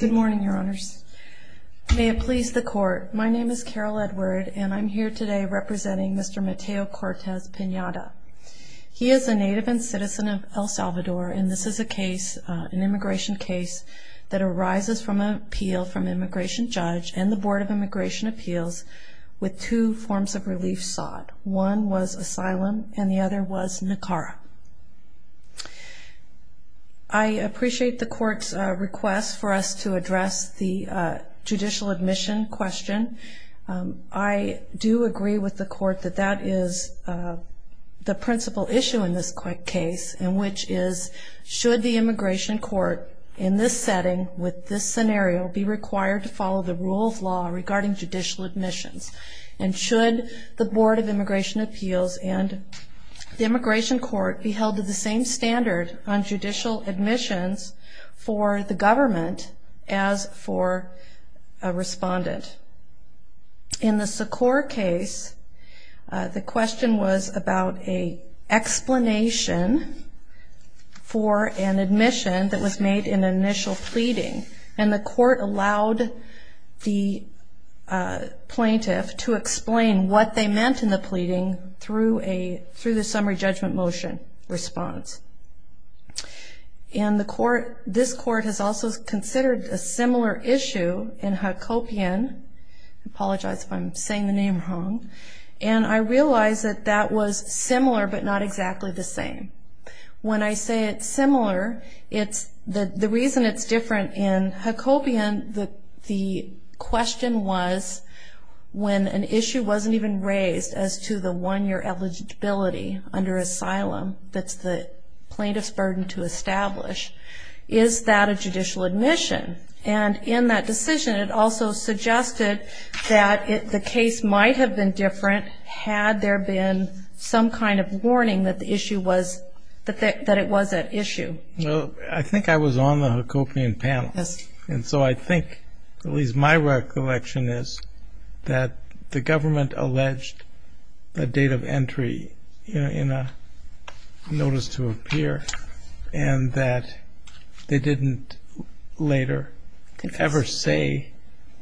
Good morning, Your Honors. May it please the Court, my name is Carol Edward and I'm here today representing Mr. Mateo Cortez-Pineda. He is a native and citizen of El Salvador and this is a case, an immigration case, that arises from an appeal from an immigration judge and the Board of Immigration Appeals with two forms of relief sought. One was asylum and the other was NACARA. I appreciate the Court's request for us to address the judicial admission question. I do agree with the Court that that is the principal issue in this case and which is should the immigration court in this setting with this scenario be required to follow the rule of law regarding judicial admissions and should the Board of Immigration Appeals and the immigration court be held to the same standard on judicial admissions for the government as for a respondent. In the Secor case, the question was about an explanation for an admission that was made in an initial pleading and the Court allowed the plaintiff to explain what they meant in the pleading through the summary judgment motion response. And this Court has also considered a similar issue in Hacopian, I apologize if I'm saying the name wrong, and I realize that that was similar but not exactly the same. When I say it's similar, the reason it's different in Hacopian, the question was when an issue wasn't even raised as to the one-year eligibility under asylum that's the plaintiff's burden to establish, is that a judicial admission? And in that decision it also suggested that the case might have been different had there been some kind of warning that the issue was, that it was at issue. Well, I think I was on the Hacopian panel. Yes. And so I think at least my recollection is that the government alleged the date of entry in a notice to appear and that they didn't later ever say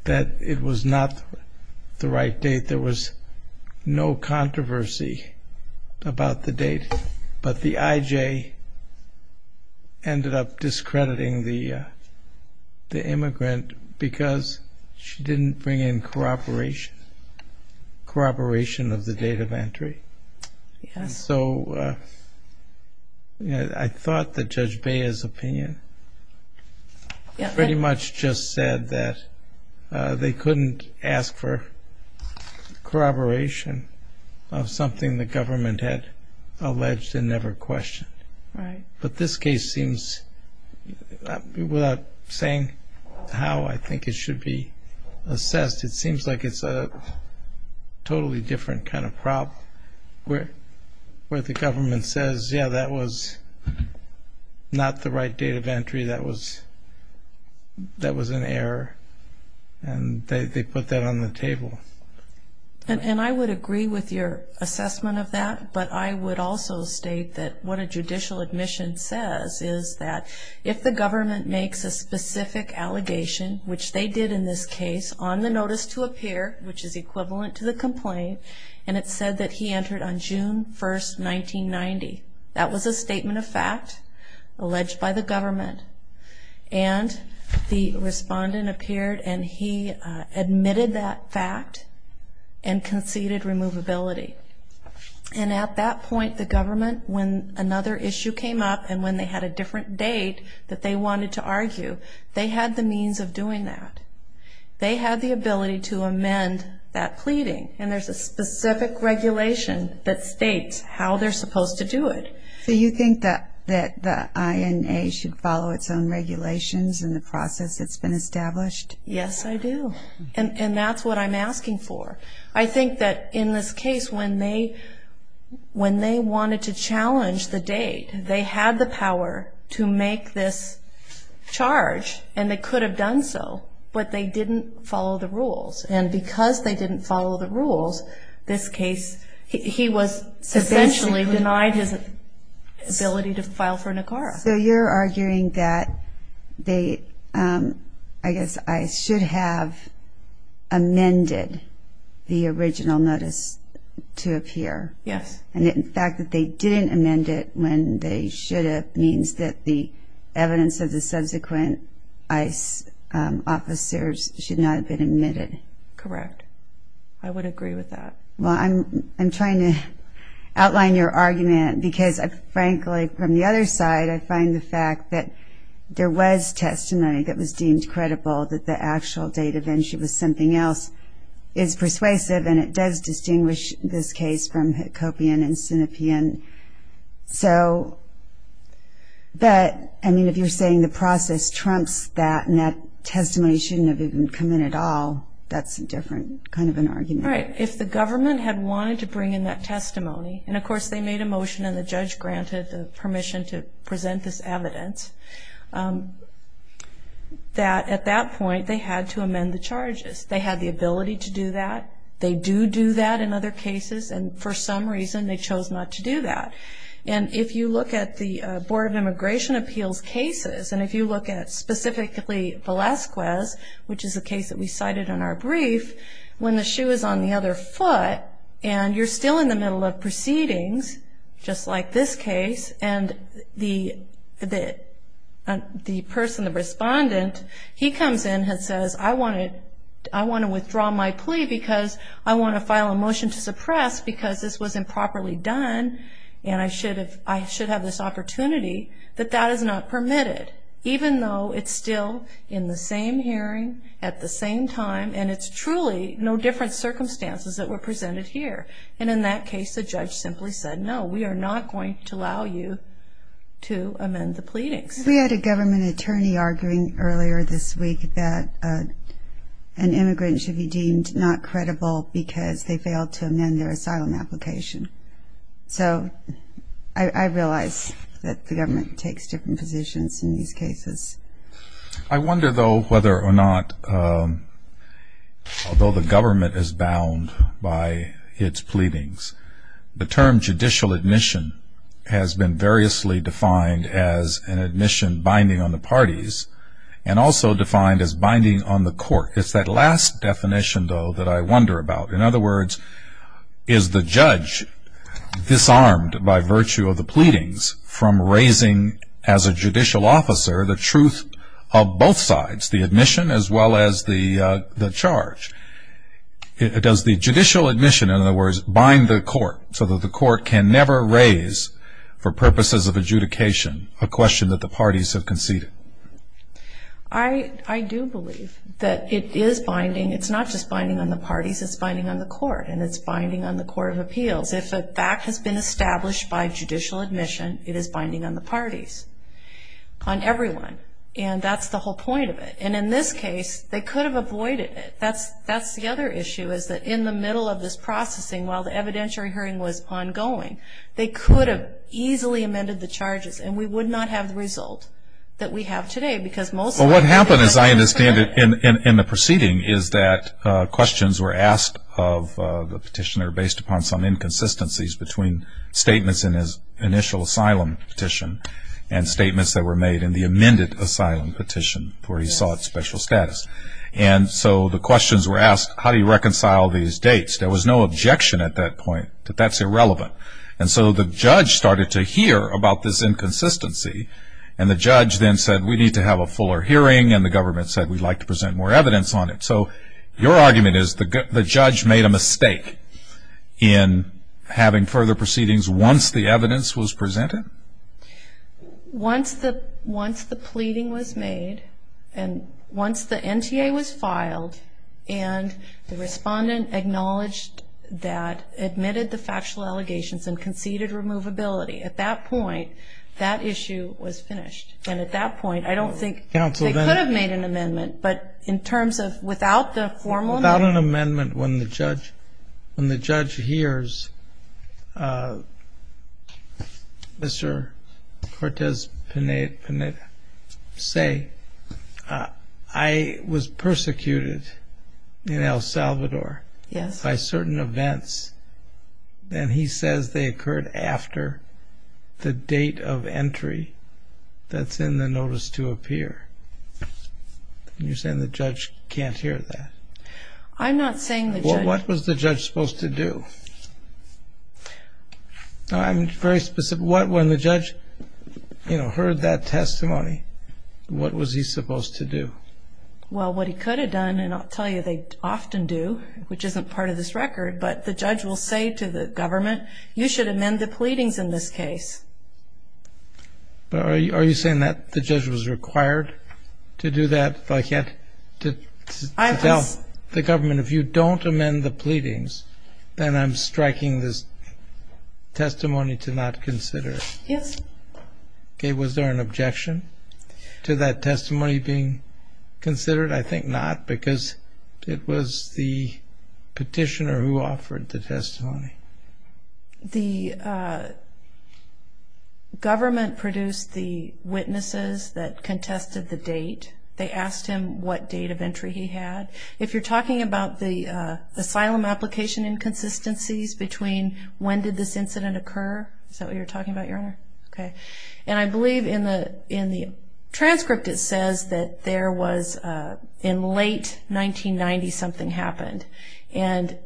that it was not the right date. There was no controversy about the date, but the IJ ended up discrediting the immigrant because she didn't bring in corroboration of the date of entry. Yes. And so I thought that Judge Bea's opinion pretty much just said that they couldn't ask for corroboration of something the government had alleged and never questioned. Right. But this case seems, without saying how I think it should be assessed, it seems like it's a totally different kind of problem where the government says, yeah, that was not the right date of entry, that was an error, and they put that on the table. And I would agree with your assessment of that, but I would also state that what a judicial admission says is that if the government makes a specific allegation, which they did in this case, on the notice to appear, which is equivalent to the complaint, and it said that he entered on June 1, 1990, that was a statement of fact alleged by the government, and the respondent appeared and he admitted that fact and conceded removability. And at that point, the government, when another issue came up and when they had a different date that they wanted to argue, they had the means of doing that. They had the ability to amend that pleading, and there's a specific regulation that states how they're supposed to do it. So you think that the INA should follow its own regulations in the process that's been established? Yes, I do. And that's what I'm asking for. I think that in this case, when they wanted to challenge the date, they had the power to make this charge, and they could have done so, but they didn't follow the rules. And because they didn't follow the rules, this case, he was essentially denied his ability to file for NACARA. So you're arguing that they, I guess ICE should have amended the original notice to appear. Yes. And the fact that they didn't amend it when they should have means that the evidence of the subsequent ICE officers should not have been admitted. Correct. I would agree with that. Well, I'm trying to outline your argument because, frankly, from the other side, I find the fact that there was testimony that was deemed credible that the actual date of injury was something else is persuasive, and it does distinguish this case from Hickopian and Sinopean. So, but, I mean, if you're saying the process trumps that and that testimony shouldn't have even come in at all, that's a different kind of an argument. Right. If the government had wanted to bring in that testimony, and, of course, they made a motion and the judge granted the permission to present this evidence, that at that point they had to amend the charges. They had the ability to do that. They do do that in other cases, and for some reason they chose not to do that. And if you look at the Board of Immigration Appeals cases, and if you look at specifically Velazquez, which is a case that we cited in our brief, when the shoe is on the other foot and you're still in the middle of proceedings, just like this case, and the person, the respondent, he comes in and says, I want to withdraw my plea because I want to file a motion to suppress because this was improperly done and I should have this opportunity, that that is not permitted, even though it's still in the same hearing at the same time and it's truly no different circumstances that were presented here. And in that case the judge simply said, no, we are not going to allow you to amend the pleadings. We had a government attorney arguing earlier this week that an immigrant should be deemed not credible because they failed to amend their asylum application. So I realize that the government takes different positions in these cases. I wonder, though, whether or not, although the government is bound by its pleadings, the term judicial admission has been variously defined as an admission binding on the parties and also defined as binding on the court. It's that last definition, though, that I wonder about. In other words, is the judge disarmed by virtue of the pleadings from raising as a judicial officer the truth of both sides, the admission as well as the charge? Does the judicial admission, in other words, bind the court so that the court can never raise for purposes of adjudication a question that the parties have conceded? I do believe that it is binding. It's not just binding on the parties, it's binding on the court and it's binding on the court of appeals. If a fact has been established by judicial admission, it is binding on the parties, on everyone. And that's the whole point of it. And in this case they could have avoided it. That's the other issue, is that in the middle of this processing, while the evidentiary hearing was ongoing, they could have easily amended the charges and we would not have the result that we have today. Well, what happened, as I understand it, in the proceeding is that questions were asked of the petitioner based upon some inconsistencies between statements in his initial asylum petition and statements that were made in the amended asylum petition where he saw it special status. And so the questions were asked, how do you reconcile these dates? There was no objection at that point, that that's irrelevant. And so the judge started to hear about this inconsistency and the judge then said we need to have a fuller hearing and the government said we'd like to present more evidence on it. So your argument is the judge made a mistake in having further proceedings once the evidence was presented? Once the pleading was made and once the NTA was filed and the respondent acknowledged that, admitted the factual allegations and conceded removability, at that point that issue was finished. And at that point I don't think they could have made an amendment, but in terms of without the formal amendment. When the judge hears Mr. Cortez Pineda say I was persecuted in El Salvador by certain events and he says they occurred after the date of entry that's in the notice to appear, you're saying the judge can't hear that? I'm not saying the judge... What was the judge supposed to do? I'm very specific. When the judge heard that testimony, what was he supposed to do? Well, what he could have done, and I'll tell you they often do, which isn't part of this record, but the judge will say to the government you should amend the pleadings in this case. Are you saying that the judge was required to do that? I thought you had to tell the government if you don't amend the pleadings then I'm striking this testimony to not consider it. Yes. Okay, was there an objection to that testimony being considered? I think not because it was the petitioner who offered the testimony. The government produced the witnesses that contested the date. They asked him what date of entry he had. If you're talking about the asylum application inconsistencies between when did this incident occur, is that what you're talking about, Your Honor? Okay. And I believe in the transcript it says that there was in late 1990 something happened in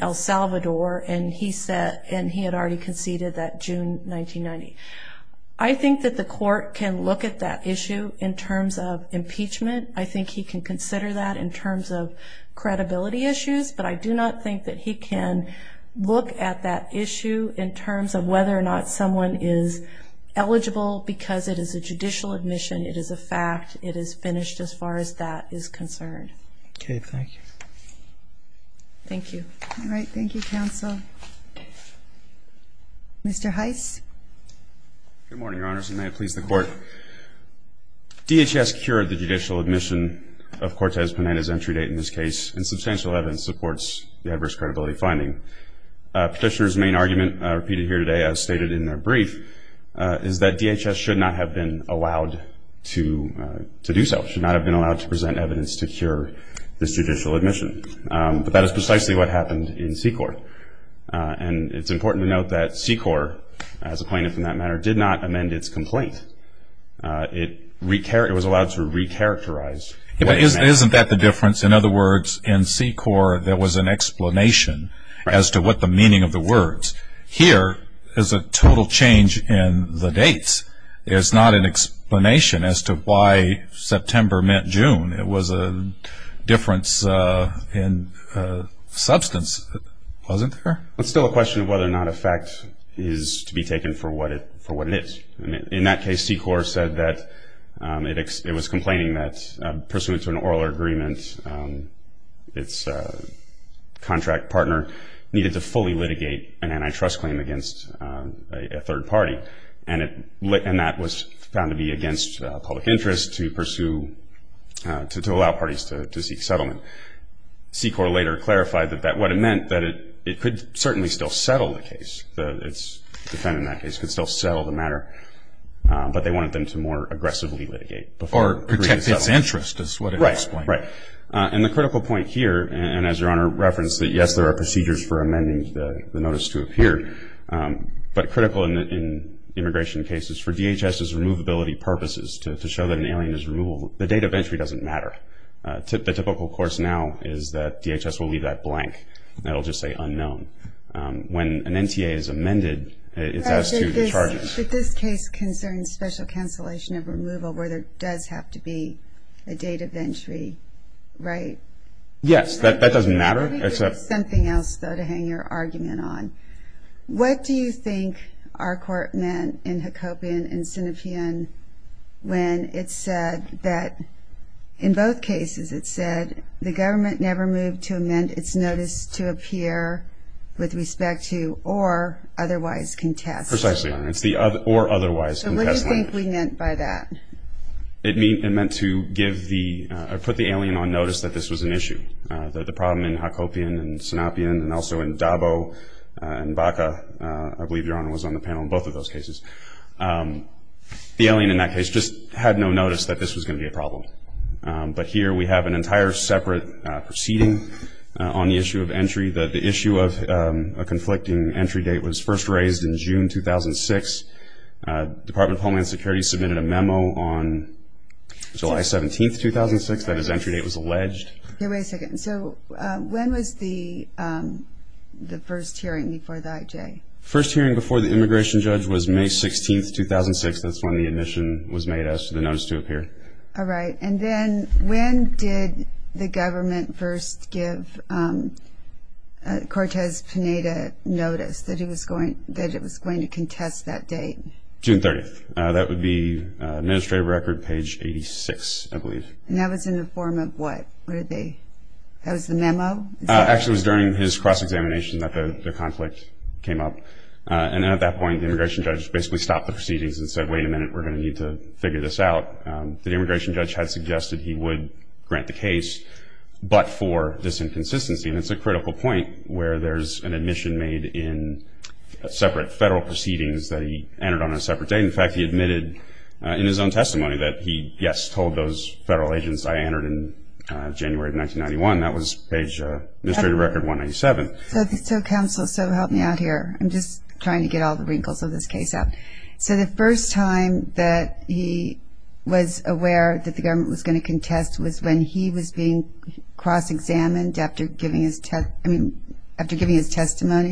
El Salvador and he had already conceded that June 1990. I think that the court can look at that issue in terms of impeachment. I think he can consider that in terms of credibility issues, but I do not think that he can look at that issue in terms of whether or not someone is eligible because it is a judicial admission, it is a fact, it is finished as far as that is concerned. Okay, thank you. Thank you. All right, thank you, counsel. Mr. Heiss? Good morning, Your Honors, and may it please the Court. DHS cured the judicial admission of Cortez-Penana's entry date in this case and substantial evidence supports the adverse credibility finding. Petitioner's main argument, repeated here today as stated in their brief, is that DHS should not have been allowed to do so, should not have been allowed to present evidence to cure this judicial admission. But that is precisely what happened in SECOR. And it's important to note that SECOR, as a plaintiff in that matter, did not amend its complaint. It was allowed to recharacterize. Isn't that the difference? In other words, in SECOR there was an explanation as to what the meaning of the words. Here is a total change in the dates. There's not an explanation as to why September meant June. It was a difference in substance, wasn't there? It's still a question of whether or not a fact is to be taken for what it is. In that case, SECOR said that it was complaining that pursuant to an oral agreement, its contract partner needed to fully litigate an antitrust claim against a third party. And that was found to be against public interest to allow parties to seek settlement. SECOR later clarified what it meant, that it could certainly still settle the case. Its defendant in that case could still settle the matter, but they wanted them to more aggressively litigate before agreeing to settle. Or protect its interest is what it was explaining. Right, right. And the critical point here, and as Your Honor referenced, that yes, there are procedures for amending the notice to appear. But critical in immigration cases, for DHS's removability purposes, to show that an alien is removable, the date of entry doesn't matter. The typical course now is that DHS will leave that blank. That will just say unknown. When an NTA is amended, it's as to the charges. But this case concerns special cancellation of removal, where there does have to be a date of entry, right? Yes, that doesn't matter. Let me give you something else, though, to hang your argument on. What do you think our court meant in Hacopian and Senefian when it said that, in both cases it said the government never moved to amend its notice to appear with respect to or otherwise contest? Precisely, Your Honor. It's the or otherwise contest. So what do you think we meant by that? It meant to give the, put the alien on notice that this was an issue. The problem in Hacopian and Senefian and also in Dabo and Baca, I believe Your Honor was on the panel in both of those cases. The alien in that case just had no notice that this was going to be a problem. But here we have an entire separate proceeding on the issue of entry. The issue of a conflicting entry date was first raised in June 2006. Department of Homeland Security submitted a memo on July 17, 2006, that its entry date was alleged. Okay, wait a second. So when was the first hearing before the IJ? First hearing before the immigration judge was May 16, 2006. That's when the admission was made as to the notice to appear. All right. And then when did the government first give Cortez Pineda notice that it was going to contest that date? June 30th. That would be administrative record page 86, I believe. And that was in the form of what? That was the memo? Actually, it was during his cross-examination that the conflict came up. And then at that point, the immigration judge basically stopped the proceedings and said, wait a minute, we're going to need to figure this out. The immigration judge had suggested he would grant the case, but for this inconsistency. And it's a critical point where there's an admission made in separate federal proceedings that he entered on a separate date. And, in fact, he admitted in his own testimony that he, yes, told those federal agents I entered in January of 1991. That was page administrative record 187. So counsel, so help me out here. I'm just trying to get all the wrinkles of this case out. So the first time that he was aware that the government was going to contest was when he was being cross-examined after giving his testimony,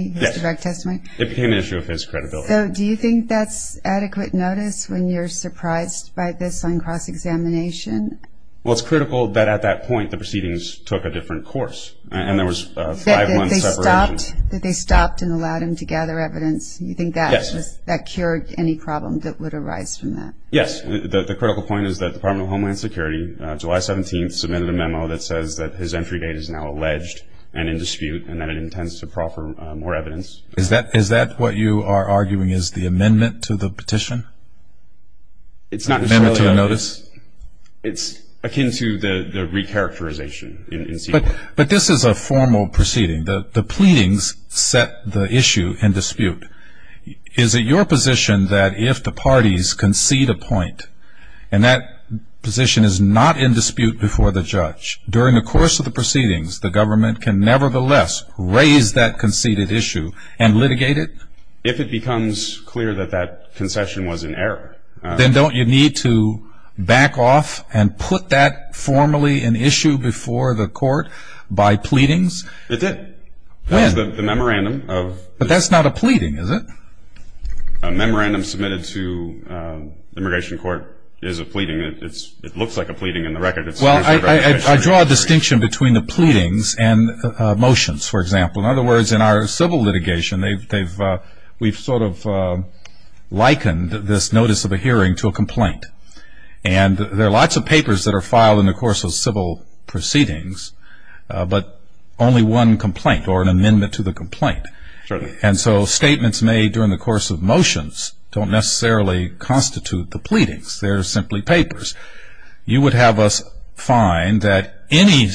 his direct testimony? It became an issue of his credibility. So do you think that's adequate notice when you're surprised by this on cross-examination? Well, it's critical that at that point the proceedings took a different course. And there was a five-month separation. That they stopped and allowed him to gather evidence? Yes. You think that cured any problem that would arise from that? Yes. The critical point is that the Department of Homeland Security, July 17th, submitted a memo that says that his entry date is now alleged and in dispute and that it intends to proffer more evidence. Is that what you are arguing is the amendment to the petition? It's not necessarily a notice. Amendment to the notice? It's akin to the re-characterization. But this is a formal proceeding. The pleadings set the issue in dispute. Is it your position that if the parties concede a point and that position is not in dispute before the judge, during the course of the proceedings, the government can nevertheless raise that conceded issue and litigate it? If it becomes clear that that concession was in error. Then don't you need to back off and put that formally in issue before the court by pleadings? It did. That was the memorandum. But that's not a pleading, is it? A memorandum submitted to the immigration court is a pleading. It looks like a pleading in the record. Well, I draw a distinction between the pleadings and motions, for example. In other words, in our civil litigation, we've sort of likened this notice of a hearing to a complaint. And there are lots of papers that are filed in the course of civil proceedings, but only one complaint or an amendment to the complaint. And so statements made during the course of motions don't necessarily constitute the pleadings. They're simply papers. You would have us find that any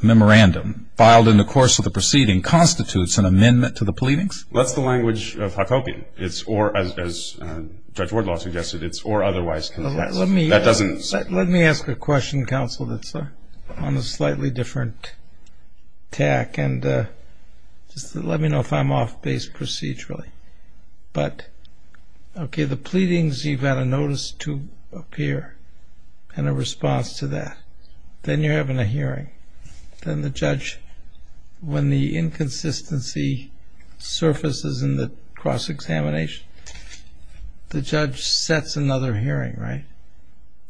memorandum filed in the course of the proceeding constitutes an amendment to the pleadings? That's the language of Huckabee. As Judge Wardlaw suggested, it's or otherwise. Let me ask a question, counsel, that's on a slightly different tack. And just let me know if I'm off base procedurally. But, okay, the pleadings, you've got a notice to appear and a response to that. Then you're having a hearing. Then the judge, when the inconsistency surfaces in the cross-examination, the judge sets another hearing, right?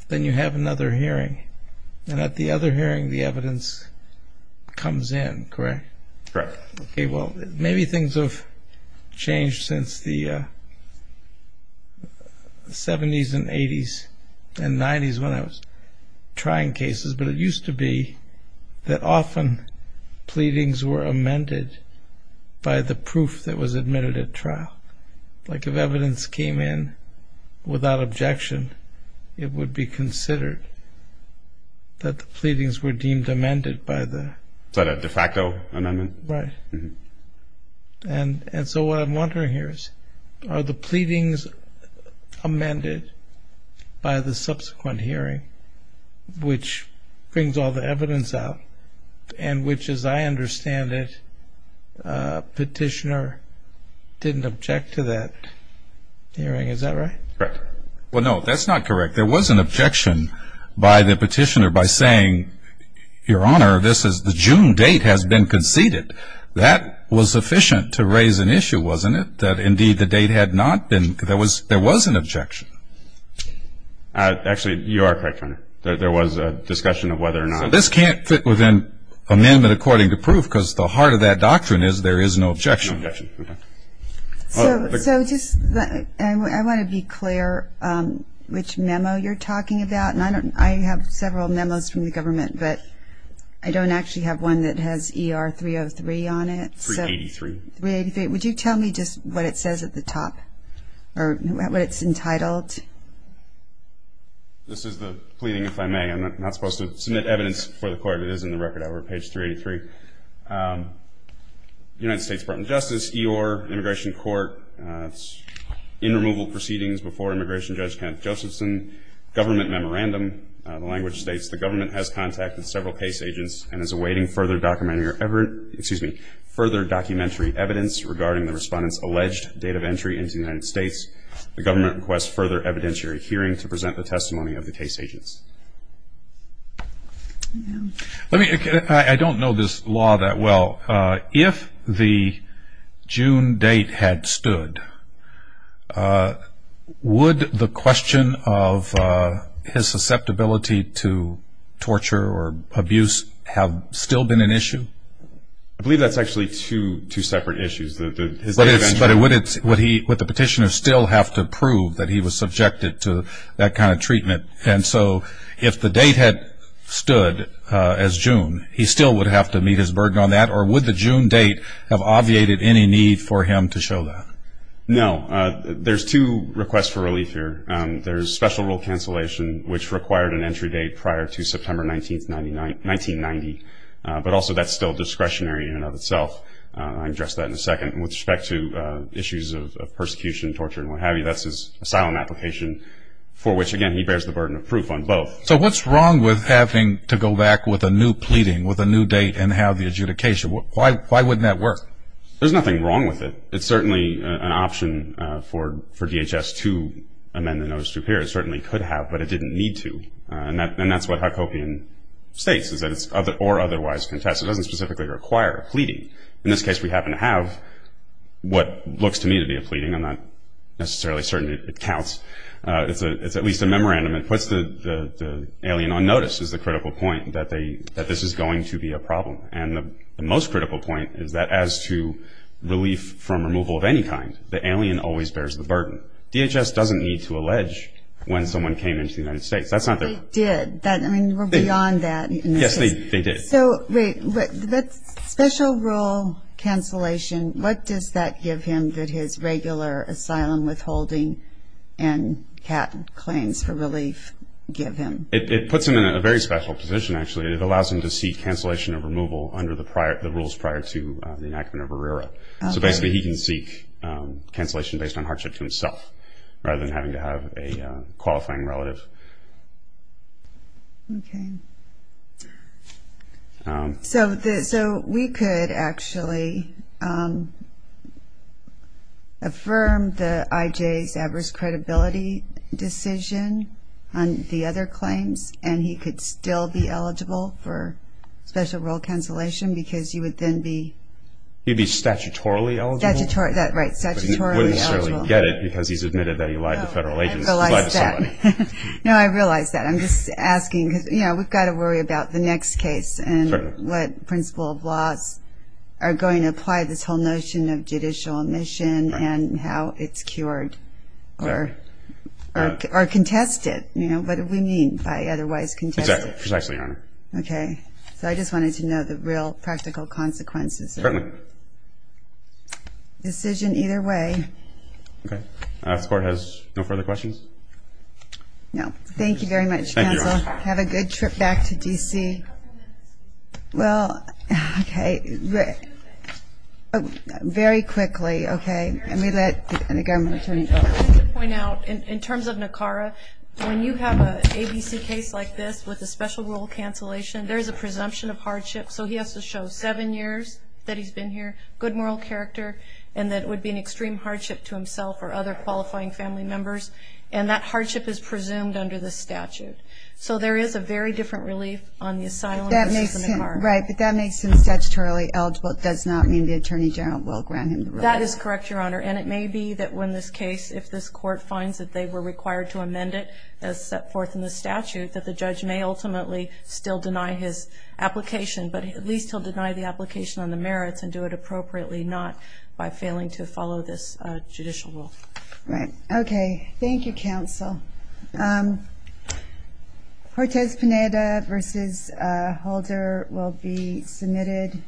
Then you have another hearing. And at the other hearing, the evidence comes in, correct? Correct. Okay, well, maybe things have changed since the 70s and 80s and 90s when I was trying cases. But it used to be that often pleadings were amended by the proof that was admitted at trial. Like if evidence came in without objection, it would be considered that the pleadings were deemed amended by the ‑‑ And so what I'm wondering here is, are the pleadings amended by the subsequent hearing, which brings all the evidence out and which, as I understand it, petitioner didn't object to that hearing. Is that right? Correct. Well, no, that's not correct. There was an objection by the petitioner by saying, Your Honor, this is the June date has been conceded. That was sufficient to raise an issue, wasn't it? That, indeed, the date had not been ‑‑ there was an objection. Actually, you are correct, Your Honor. There was a discussion of whether or not ‑‑ Now, this can't fit within amendment according to proof because the heart of that doctrine is there is no objection. No objection, okay. So just ‑‑ I want to be clear which memo you're talking about. I have several memos from the government, but I don't actually have one that has ER 303 on it. 383. 383. Would you tell me just what it says at the top or what it's entitled? This is the pleading, if I may. I'm not supposed to submit evidence before the court. It is in the record over at page 383. United States Department of Justice, EOR, Immigration Court, in removal proceedings before Immigration Judge Kenneth Josephson, government memorandum, the language states the government has contacted several case agents and is awaiting further documentary evidence regarding the respondent's alleged date of entry into the United States. The government requests further evidentiary hearing to present the testimony of the case agents. I don't know this law that well. If the June date had stood, would the question of his susceptibility to torture or abuse have still been an issue? I believe that's actually two separate issues. But would the petitioner still have to prove that he was subjected to that kind of treatment? And so if the date had stood as June, he still would have to meet his burden on that, or would the June date have obviated any need for him to show that? No. There's two requests for relief here. There's special rule cancellation, which required an entry date prior to September 19, 1990, but also that's still discretionary in and of itself. I'll address that in a second. With respect to issues of persecution, torture, and what have you, that's his asylum application, for which, again, he bears the burden of proof on both. So what's wrong with having to go back with a new pleading, with a new date, and have the adjudication? Why wouldn't that work? There's nothing wrong with it. It's certainly an option for DHS to amend the notice to appear. It certainly could have, but it didn't need to. And that's what Huckabee and states, is that it's or otherwise contest. It doesn't specifically require pleading. In this case, we happen to have what looks to me to be a pleading. I'm not necessarily certain it counts. It's at least a memorandum. It puts the alien on notice, is the critical point, that this is going to be a problem. And the most critical point is that as to relief from removal of any kind, the alien always bears the burden. DHS doesn't need to allege when someone came into the United States. That's not their point. They did. I mean, we're beyond that. Yes, they did. So wait, special rule cancellation, what does that give him that his regular asylum withholding and CAT claims for relief give him? It puts him in a very special position, actually. It allows him to seek cancellation of removal under the rules prior to the enactment of ERIRA. So basically he can seek cancellation based on hardship to himself rather than having to have a qualifying relative. Okay. So we could actually affirm the IJ's adverse credibility decision on the other claims and he could still be eligible for special rule cancellation because you would then be... He'd be statutorily eligible. Right, statutorily eligible. But he wouldn't necessarily get it because he's admitted that he lied to federal agents. No, I realize that. I'm just asking because we've got to worry about the next case and what principle of laws are going to apply this whole notion of judicial omission and how it's cured or contested. What do we mean by otherwise contested? Exactly, precisely, Your Honor. Okay. So I just wanted to know the real practical consequences. Certainly. Decision either way. Okay. The last court has no further questions. No. Thank you very much, counsel. Thank you, Your Honor. Have a good trip back to D.C. Well, okay. Very quickly, okay. Let the government attorney. I just wanted to point out in terms of NACARA, when you have an ABC case like this with a special rule cancellation, there is a presumption of hardship. So he has to show seven years that he's been here, good moral character, and that it would be an extreme hardship to himself or other qualifying family members. And that hardship is presumed under the statute. So there is a very different relief on the asylum issue than NACARA. Right. But that makes him statutorily eligible. It does not mean the attorney general will grant him the relief. That is correct, Your Honor. And it may be that when this case, if this court finds that they were required to amend it as set forth in the statute, that the judge may ultimately still deny his application. But at least he'll deny the application on the merits and do it appropriately, not by failing to follow this judicial rule. Right. Okay. Thank you, counsel. Cortez-Pineda v. Holder will be submitted.